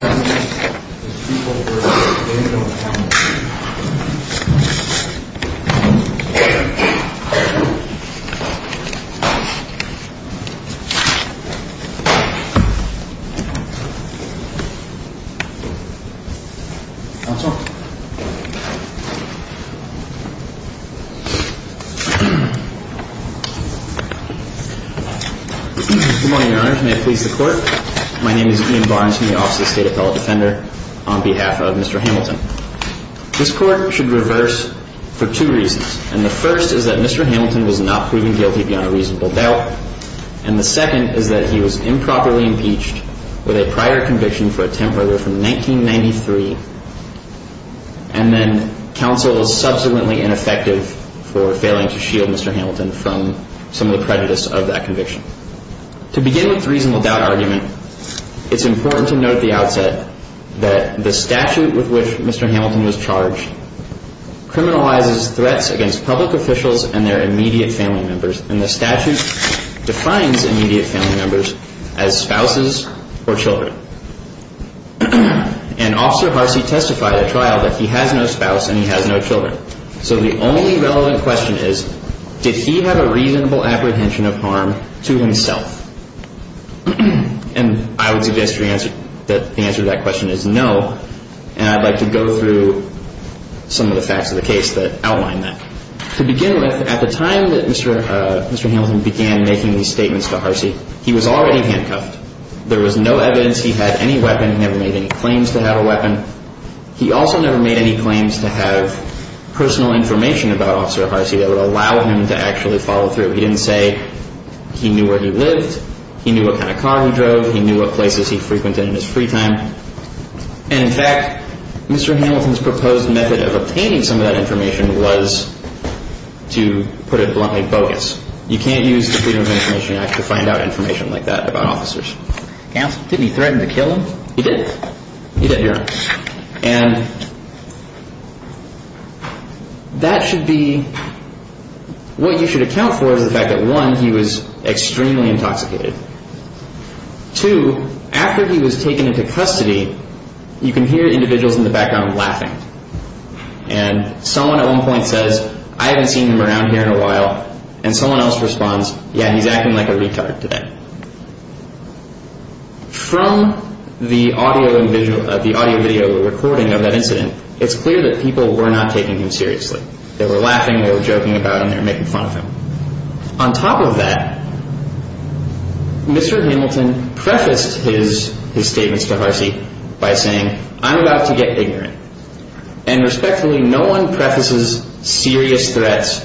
Good morning, Your Honor. May it please the Court. My name is Ian Barnes. I'm the officer of the State Appellate Defender on behalf of Mr. Hamilton. This Court should reverse for two reasons, and the first is that Mr. Hamilton was not proven guilty beyond a reasonable doubt, and the second is that he was improperly impeached with a prior conviction for a temporary from 1993, and then counsel was subsequently ineffective for failing to shield Mr. Hamilton from some of the prejudice of that conviction. To begin with the reasonable doubt argument, it's important to note at the outset that the statute with which Mr. Hamilton was charged criminalizes threats against public officials and their immediate family members, and the statute defines immediate family members as spouses or children. And Officer Harsey testified at trial that he has no spouse and he has no children. So the only relevant question is, did he have a reasonable apprehension of harm to himself? And I would suggest that the answer to that question is no, and I'd like to go through some of the facts of the case that outline that. To begin with, at the time that Mr. Hamilton began making these statements to Harsey, he was already handcuffed. There was no evidence he had any weapon. He never made any claims to have a weapon. He also never made any claims to have personal information about Officer Harsey that would allow him to actually follow through. He didn't say he knew where he lived, he knew what kind of car he drove, he knew what places he frequented in his free time. And in fact, Mr. Hamilton's proposed method of obtaining some of that information was, to put it bluntly, bogus. You can't use the Freedom of Information Act to find out information like that about officers. Didn't he threaten to kill him? He did. He did. And that should be, what you should account for is the fact that, one, he was extremely intoxicated. Two, after he was taken into custody, you can hear individuals in the background laughing. And someone at one point says, I haven't seen him around here in a while. And someone else responds, yeah, he's acting like a retard today. From the audio and visual, the audio-video recording of that incident, it's clear that people were not taking him seriously. They were laughing, they were joking about him, they were making fun of him. On top of that, Mr. Hamilton prefaced his statements to Harsey by saying, I'm about to get ignorant. And respectfully, no one prefaces serious threats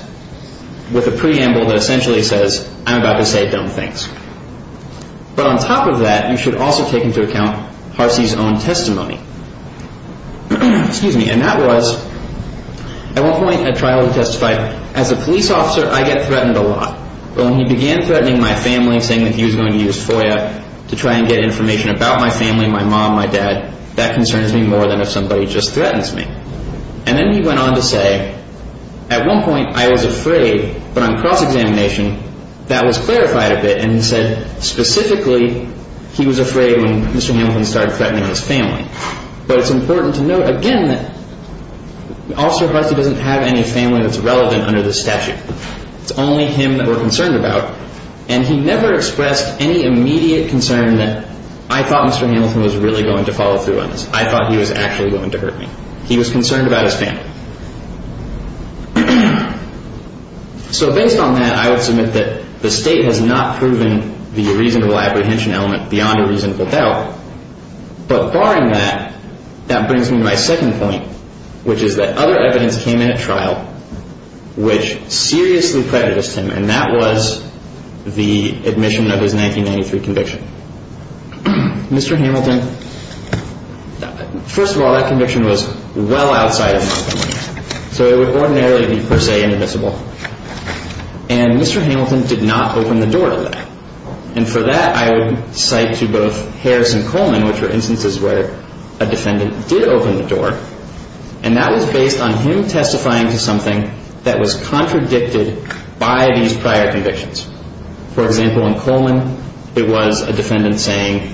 with a preamble that essentially says, I'm about to say dumb things. But on top of that, you should also take into account Harsey's own testimony. And that was, at one point, a trial he testified, as a police officer, I get threatened a lot. But when he began threatening my family, saying that he was going to use FOIA to try and get information about my family, my mom, my dad, that concerns me more than if somebody just threatens me. And then he went on to say, at one point, I was afraid, but on cross-examination, that was clarified a bit. And he said, specifically, he was afraid when Mr. Hamilton started threatening his family. But it's important to note, again, that Officer Harsey doesn't have any family that's relevant under this statute. It's only him that we're concerned about. And he never expressed any immediate concern that I thought Mr. Hamilton was really going to follow through on this. I thought he was actually going to hurt me. He was concerned about his family. So based on that, I would submit that the State has not proven the reasonable apprehension element beyond a reasonable doubt. But barring that, that brings me to my second point, which is that other evidence came in at trial which seriously prejudiced him, and that was the first of all, that conviction was well outside of my domain. So it would ordinarily be, per se, inadmissible. And Mr. Hamilton did not open the door to that. And for that, I would cite to both Harris and Coleman, which were instances where a defendant did open the door. And that was based on him testifying to something that was contradicted by these prior convictions. For example, in Coleman, it was a defendant saying,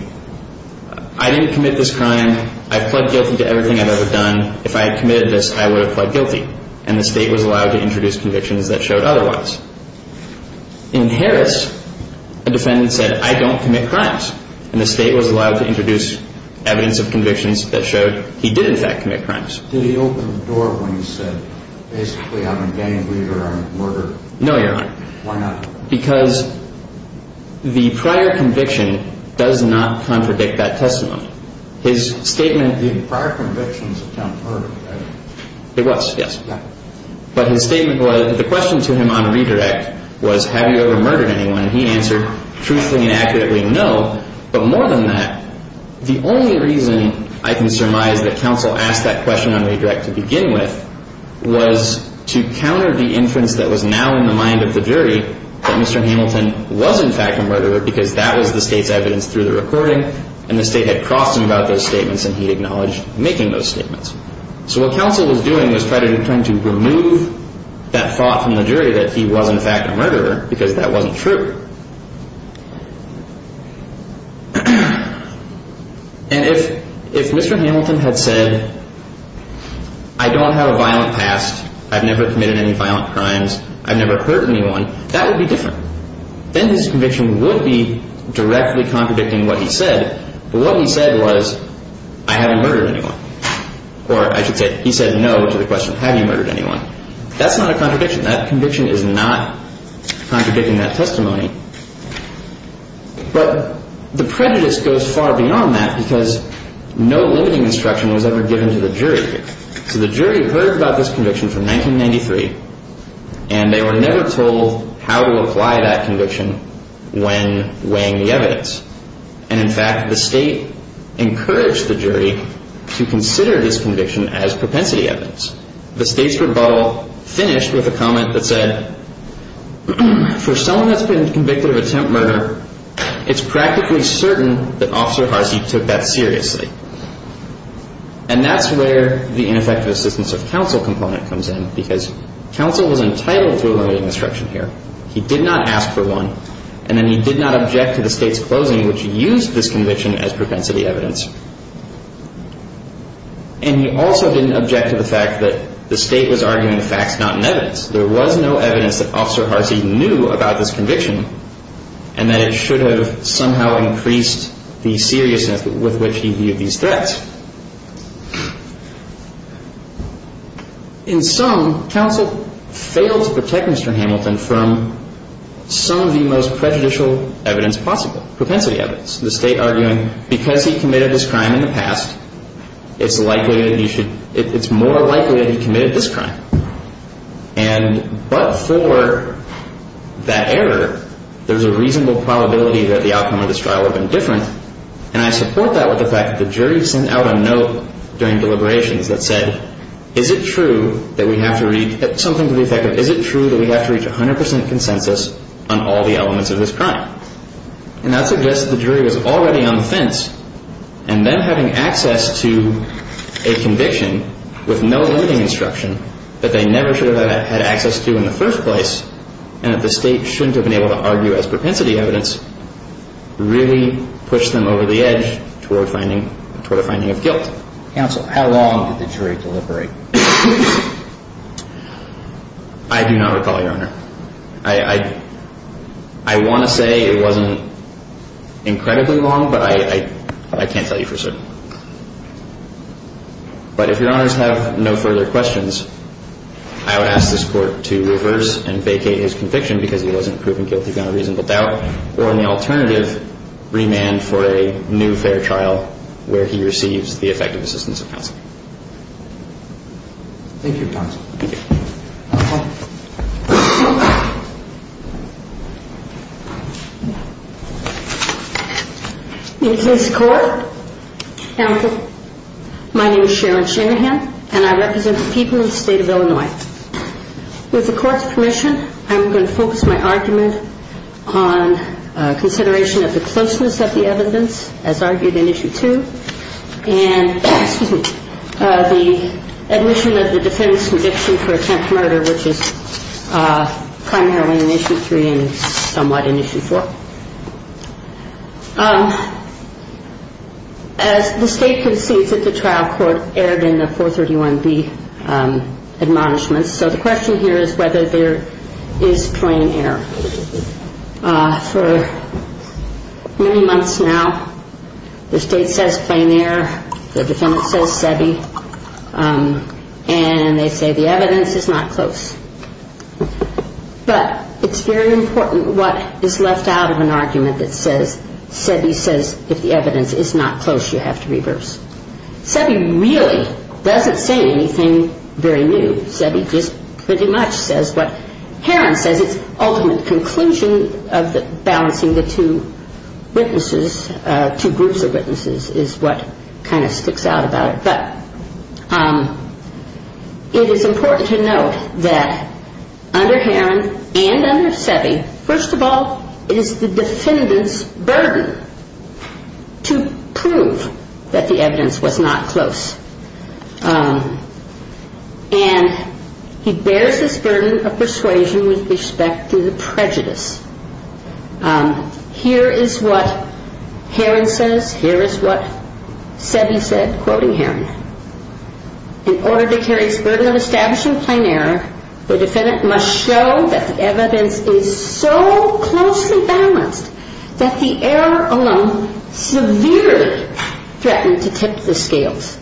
I didn't commit this crime. I pled guilty to everything I've ever done. If I had committed this, I would have pled guilty. And the State was allowed to introduce convictions that showed otherwise. In Harris, a defendant said, I don't commit crimes. And the State was allowed to introduce evidence of convictions that showed he did, in fact, commit crimes. Did he open the door when he said, basically I'm a gang leader, I'm a murderer? No, Your Honor. Why not? Because the prior conviction does not contradict that testimony. His statement The prior conviction is a count of murder, right? It was, yes. But his statement was, the question to him on redirect was, have you ever murdered anyone? And he answered, truthfully and accurately, no. But more than that, the only reason I can surmise that counsel asked that question on redirect to begin with was to counter the inference that was now in the mind of the jury that Mr. Hamilton was, in fact, a murderer because that was the State's evidence through the recording and the State had crossed him about those statements and he acknowledged making those statements. So what counsel was doing was trying to remove that thought from the jury that he was, in fact, a murderer because that wasn't true. And if Mr. Hamilton had said, I don't have a violent past, I've never committed any violent crimes, I've never hurt anyone, that would be different. Then his conviction would be directly contradicting what he said. But what he said was, I haven't murdered anyone. Or I should say, he said no to the question, have you murdered anyone? That's not a contradiction. That conviction is not contradicting that testimony. But the prejudice goes far beyond that because no limiting instruction was ever given to the jury. So the jury heard about this conviction from 1993 and they were never told how to apply that conviction when weighing the evidence. And, in fact, the State encouraged the jury to consider this conviction as propensity evidence. The State's rebuttal finished with a comment that said, for someone that's been convicted of attempt murder, it's practically certain that Officer Harsey took that seriously. And that's where the problem is because counsel was entitled to a limiting instruction here. He did not ask for one. And then he did not object to the State's closing, which used this conviction as propensity evidence. And he also didn't object to the fact that the State was arguing the facts, not in evidence. There was no evidence that Officer Harsey knew about this conviction and that it should have somehow increased the seriousness with which he viewed these threats. In sum, counsel failed to protect Mr. Hamilton from some of the most prejudicial evidence possible, propensity evidence. The State arguing, because he committed this crime in the past, it's likely that he should, it's more likely that he would have been different. And I support that with the fact that the jury sent out a note during deliberations that said, is it true that we have to read, something to the effect of, is it true that we have to reach 100 percent consensus on all the elements of this crime? And that suggests that the jury was already on the fence. And them having access to a conviction with no limiting instruction that they never should have had access to in the first place, and that the State shouldn't have been able to argue as propensity evidence, really pushed them over the edge toward finding, toward a finding of guilt. Counsel, how long did the jury deliberate? I do not recall, Your Honor. I want to say it wasn't incredibly long, but I can't tell you for certain. But if Your Honors have no further questions, I would ask this Court to reverse and vacate his conviction because he would have had a fair trial, or an alternative remand for a new fair trial where he receives the effective assistance of counsel. Thank you, counsel. In the case of the Court, my name is Sharon Shanahan, and I represent the people of the State of Illinois. With the Court's permission, I'm going to focus my argument on consideration of the closeness of the evidence, as argued in Issue 2, and the admission of the defendant's conviction for attempt murder, which is primarily in Issue 3 and somewhat in Issue 4. As the State concedes that the trial court erred in the 431B admonishments, so the question here is whether there is plain error. For many months now, the State says plain error, the defendant says SEBI, and they say the evidence is not close. But it's very important what is left out of an argument that says SEBI says if the evidence is not close, you have to reverse. SEBI really doesn't say anything very new. SEBI just pretty much says what Heron says, its ultimate conclusion of balancing the two witnesses, two groups of witnesses, is what kind of sticks out about it. But it is important to note that under Heron and under SEBI, first of all, it is the defendant's burden to prove that the evidence was not close. And he bears this burden of persuasion with respect to the prejudice. Here is what Heron says, here is what SEBI said, quoting Heron, in order to carry his burden of establishing plain error, the defendant must show that the evidence is so closely balanced that the error alone severely threatened to tip the scales.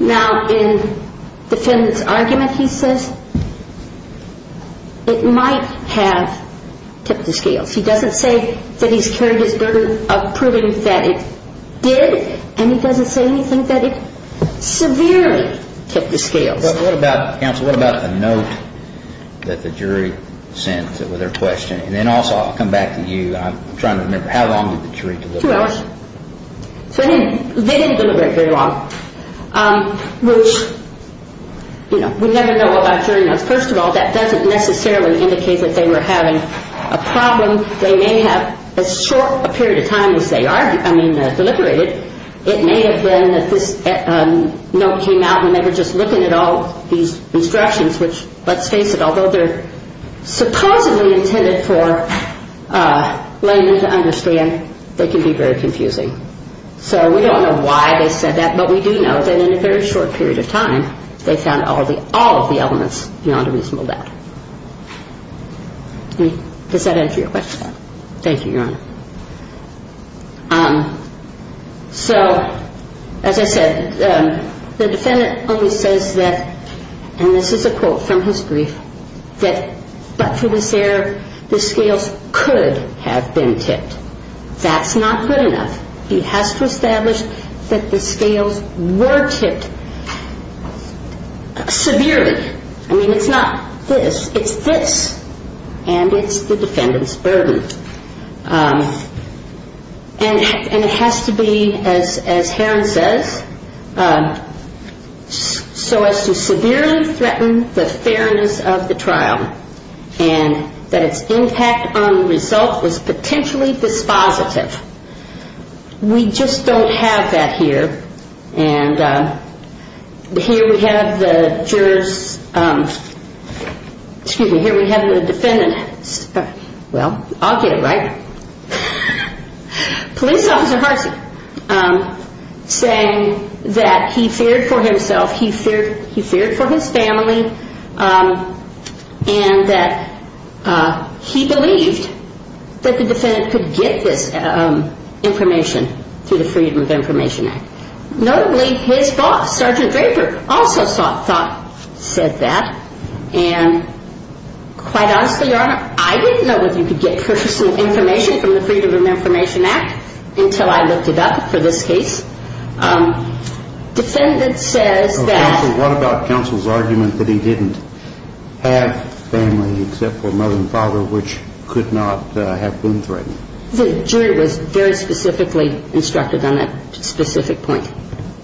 Now, in the defendant's argument, he says, it might have tipped the scales. He doesn't say that he's carried his burden of proving that it did, and he doesn't say anything that it severely tipped the scales. What about the note that the jury sent with their question? And then also, I'll come back to you, I'm trying to remember, how long did the jury deliver? Two hours. So they didn't deliver very long. We never know about jury notes. First of all, that doesn't necessarily indicate that they were having a problem. They may have, as short a period of time as they are, I mean, deliberated, it may have been that this note came out when they were just looking at all these instructions, which, let's face it, although they're supposedly intended for laymen to understand, they can be very confusing. So we don't know why they said that, but we do know that in a very short period of time, they found all of the elements beyond a reasonable doubt. Does that answer your question? Thank you, Your Honor. So, as I said, the defendant only says that, and this is a quote from his brief, that, but for this error, the scales could have been tipped. That's not good enough. He has to establish that the scales were tipped severely. I mean, it's not this, it's this. And it's the defendant's burden. And it has to be, as Herron says, so as to severely threaten the fairness of the trial, and that its impact on the result is potentially dispositive. We just don't have that here. And here we have the jurors, excuse me, here we have the defendant, well, I'll get it right, police officer Harsey, saying that he feared for himself, he feared for his family, and that he believed that the defendant could get this information through the Freedom of Information Act. Notably, his boss, Sergeant Draper, also said that, and quite honestly, Your Honor, I didn't know whether you could get personal information from the Freedom of Information Act until I looked it up for this case. Defendant says that he didn't have family except for mother and father, which could not have been threatened. The jury was very specifically instructed on that specific point.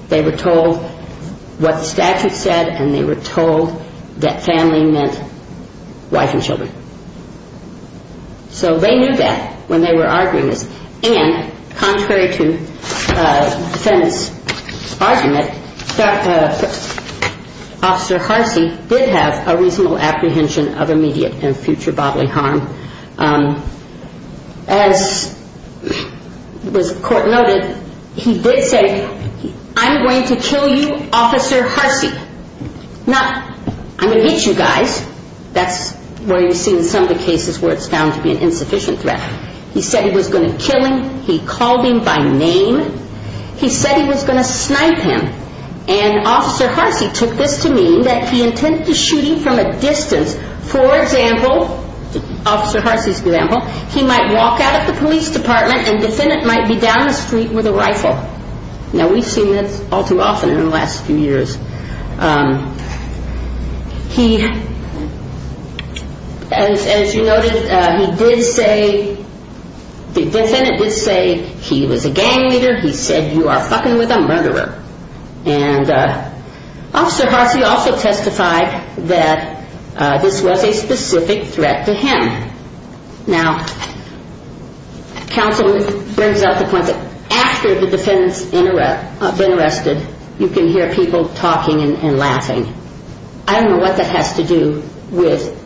They were told what the statute said, and they were told that family meant wife and children. So they knew that when they were arguing this. And contrary to the defendant's argument, Officer Harsey did have a reasonable apprehension of immediate and future bodily harm. As was court noted, he did say, I'm going to kill you, Officer Harsey. Not, I'm going to shoot you guys. That's where you see some of the cases where it's found to be an insufficient threat. He said he was going to kill him. He called him by name. He said he was going to snipe him. And Officer Harsey took this to mean that he intended to shoot him from a distance. For example, Officer Harsey, as you noted, he did say, the defendant did say he was a gang leader. He said you are fucking with a murderer. And Officer Harsey also testified that this was a with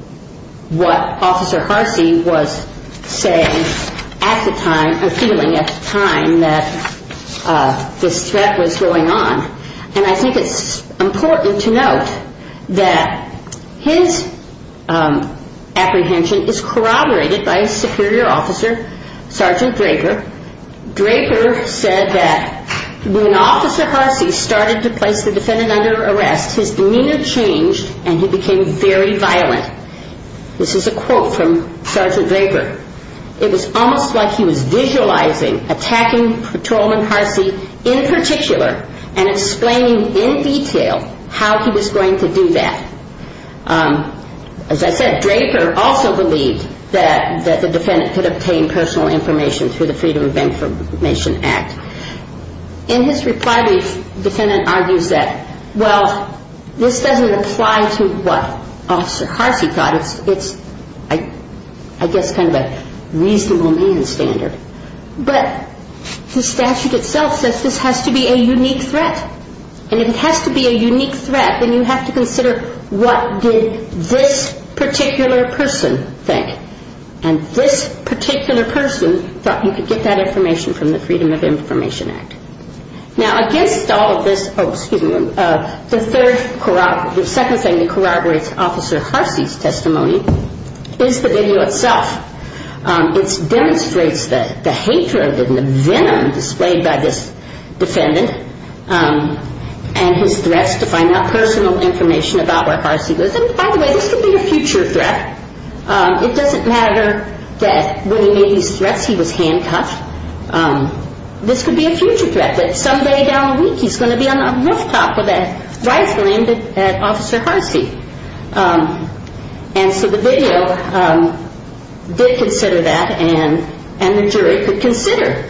what Officer Harsey was saying at the time, or feeling at the time that this threat was going on. And I think it's important to note that his apprehension is corroborated by a superior officer, Sergeant Draper. Draper said that when Officer Harsey started to place the defendant under arrest, his demeanor changed and he became very violent. This is a quote from Sergeant Draper. It was almost like he was visualizing attacking Patrolman Harsey in particular and explaining in detail how he was going to do that. As I said, Draper also believed that the defendant could obtain personal information through the Freedom of Information Act. In his reply, the defendant argues that, well, this doesn't apply to what Officer Harsey thought. Now, it's, I guess, kind of a reasonable man standard. But the statute itself says this has to be a unique threat. And if it has to be a unique threat, then you have to consider what did this particular person think. And this particular person thought you could get that information from the Freedom of Information Act. Now, against all of this, oh, excuse me, the second thing that corroborates Officer Harsey's testimony is the video itself. It demonstrates the hatred and the venom displayed by this defendant and his threats to find out personal information about where Harsey was. And by the way, this could be a future threat. It doesn't matter that when he made these threats he was handcuffed. This could be a future threat that someday down the road he's going to be on a rooftop with a rifle aimed at Officer Harsey. And so the video did consider that and the jury could consider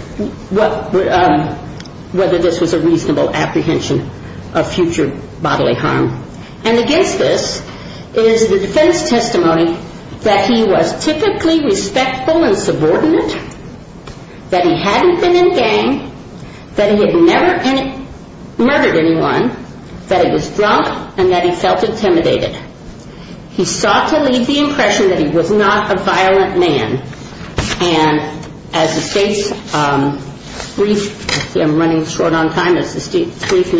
whether this was a reasonable apprehension of future bodily harm. And against this is the defense testimony that he was typically respectful and subordinate, that he hadn't been in a gang, that he had never murdered anyone, that he was drunk, and that he felt intimidated. He sought to leave the impression that he was not a violent man. And as the State's brief, I'm running short on time, as the State's brief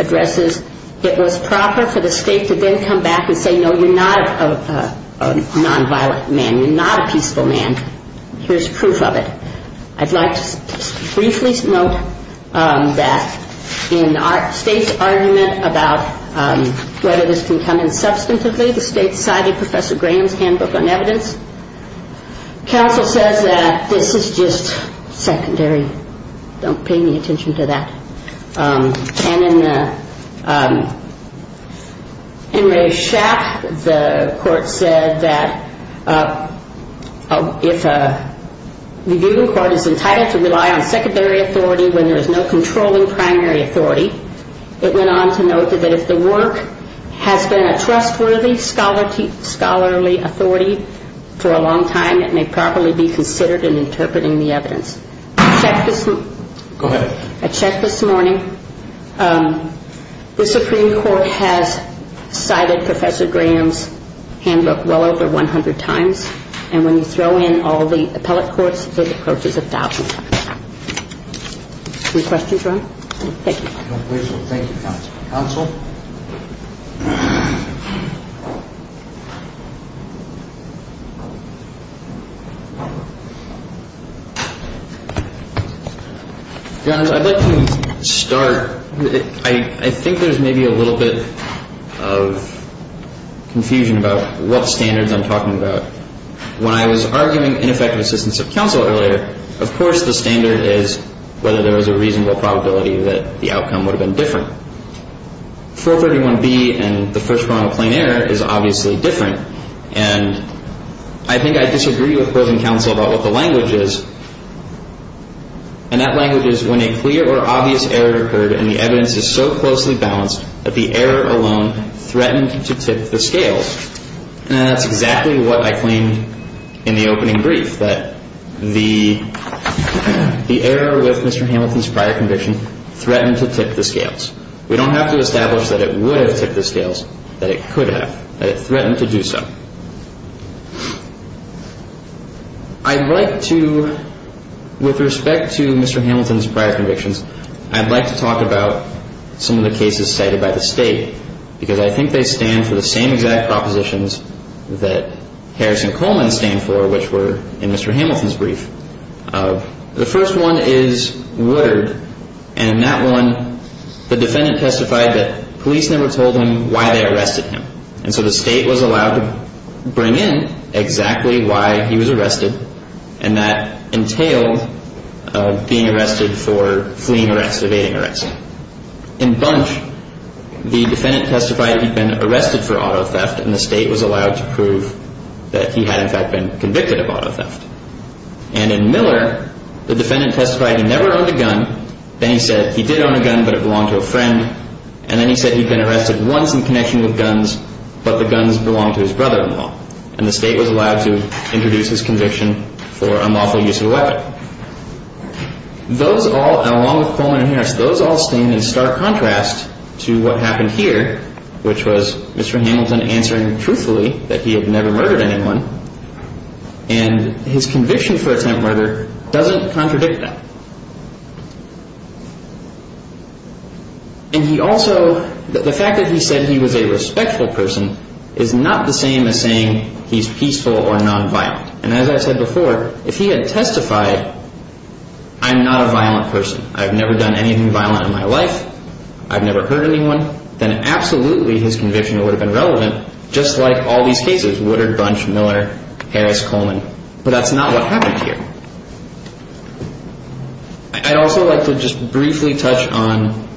addresses, it was proper for the State to then come back and say, no, you're not a nonviolent man. You're not a peaceful man. Here's proof of it. I'd like to briefly note that in the State's argument about whether this can come in substantively, the State cited Professor Graham's handbook on evidence. Counsel says that this is just secondary. Don't pay any attention to that. And in Ray Schapp, the court said that if the viewing court is entitled to rely on secondary authority when there is no controlling primary authority, it went on to note that if the work has been a trustworthy scholarly authority for a long time, it may properly be considered in interpreting the evidence. I checked this morning. The Supreme Court has cited Professor Graham's handbook well over 100 times. And when you throw in all the appellate courts, it approaches 1,000 times. Any questions, Ron? Thank you. Thank you, counsel. Counsel? Your Honor, I'd like to start. I think there's maybe a little bit of confusion about what standards I'm talking about. When I was arguing ineffective assistance of counsel earlier, of course the standard is whether there was a reasonable probability that the outcome would have been different. 431B and the first round of plain error is obviously different. And I think I disagree with opposing counsel about what the language is. And that language is when a clear or obvious error occurred and the evidence is so closely balanced that the error alone threatened to tip the scales. And that's exactly what I claimed in the opening brief, that the error with Mr. Hamilton's prior conviction threatened to tip the scales. We don't have to establish that it would have tipped the scales, that it could have, that it threatened to do so. I'd like to, with respect to Mr. Hamilton's prior convictions, I'd like to talk about some of the cases cited by the state, because I think they stand for the same exact propositions that Harris and Coleman stand for, which were in Mr. Hamilton's brief. The first one is Woodard, and in that one the defendant testified that police never told him why they arrested him. And so the state was allowed to bring in exactly why he was arrested, and that entailed being arrested for fleeing arrest, evading arrest. In Bunch, the defendant testified he'd been arrested for auto theft, and the state was allowed to prove that he had, in fact, been convicted of auto theft. And in Miller, the defendant testified he never owned a gun, then he said he did own a gun, but it belonged to a friend, and then he said he'd been arrested once in connection with guns, but the guns belonged to his brother-in-law. And the state was allowed to introduce his conviction for unlawful use of a weapon. Those all, along with Coleman and Harris, those all stand in stark contrast to what happened here, which was Mr. Hamilton answering truthfully that he had never murdered anyone, and his conviction for attempt murder doesn't contradict that. And he also, the fact that he said he was a respectful person is not the same as saying he's peaceful or nonviolent. And as I said before, if he had testified, I'm not a violent person, I've never done anything violent in my life, I've never hurt anyone, then absolutely his conviction would have been relevant, just like all these cases, Woodard, Bunch, Miller, Harris, Coleman. But that's not what happened here. I'd also like to just briefly touch on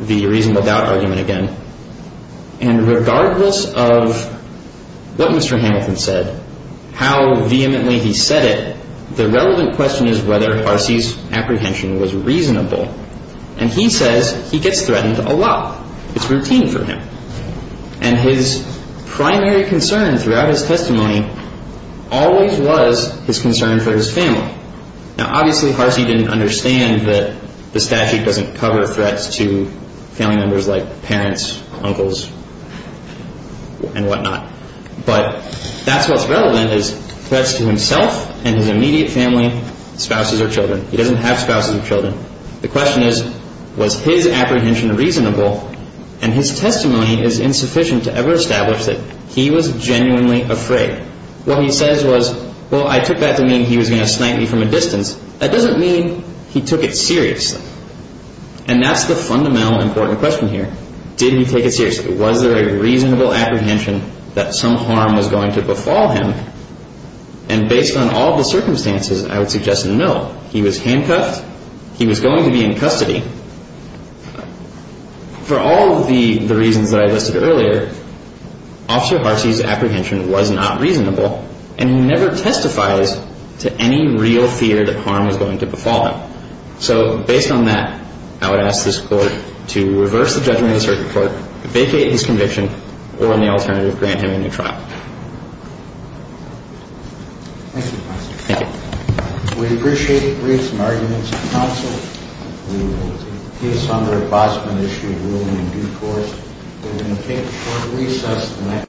the reason without argument again. And regardless of what Mr. Hamilton said, how vehemently he said it, the relevant question is whether Harcey's apprehension was reasonable. And he says he gets threatened a lot. It's routine for him. And his primary concern throughout his testimony always was his concern for his family. Now, obviously, Harcey didn't understand that the statute doesn't cover threats to family members like parents, uncles, and whatnot. But that's what's relevant is threats to himself and his immediate family, spouses, or children. He doesn't have spouses or children. The question is, was his apprehension reasonable? And his testimony is insufficient to ever establish that he was genuinely afraid. What he says was, well, I took that to mean he was going to snipe me from a distance. That doesn't mean he took it seriously. And that's the fundamental important question here. Did he take it seriously? Was there a reasonable apprehension that some harm was going to befall him? And based on all the circumstances, I would suggest no. He was handcuffed. He was going to be in custody. For all of the reasons that I listed earlier, Officer Harcey's apprehension was not reasonable, and he never testifies to any real fear that harm was going to befall him. So, based on that, I would ask this Court to reverse the judgment of the circuit court, vacate his conviction, or, in the alternative, grant him a new trial. Thank you, Officer. Thank you. We appreciate briefs and arguments of counsel. We will take a piece on the replacement issue ruling in due course. We're going to take a short recess.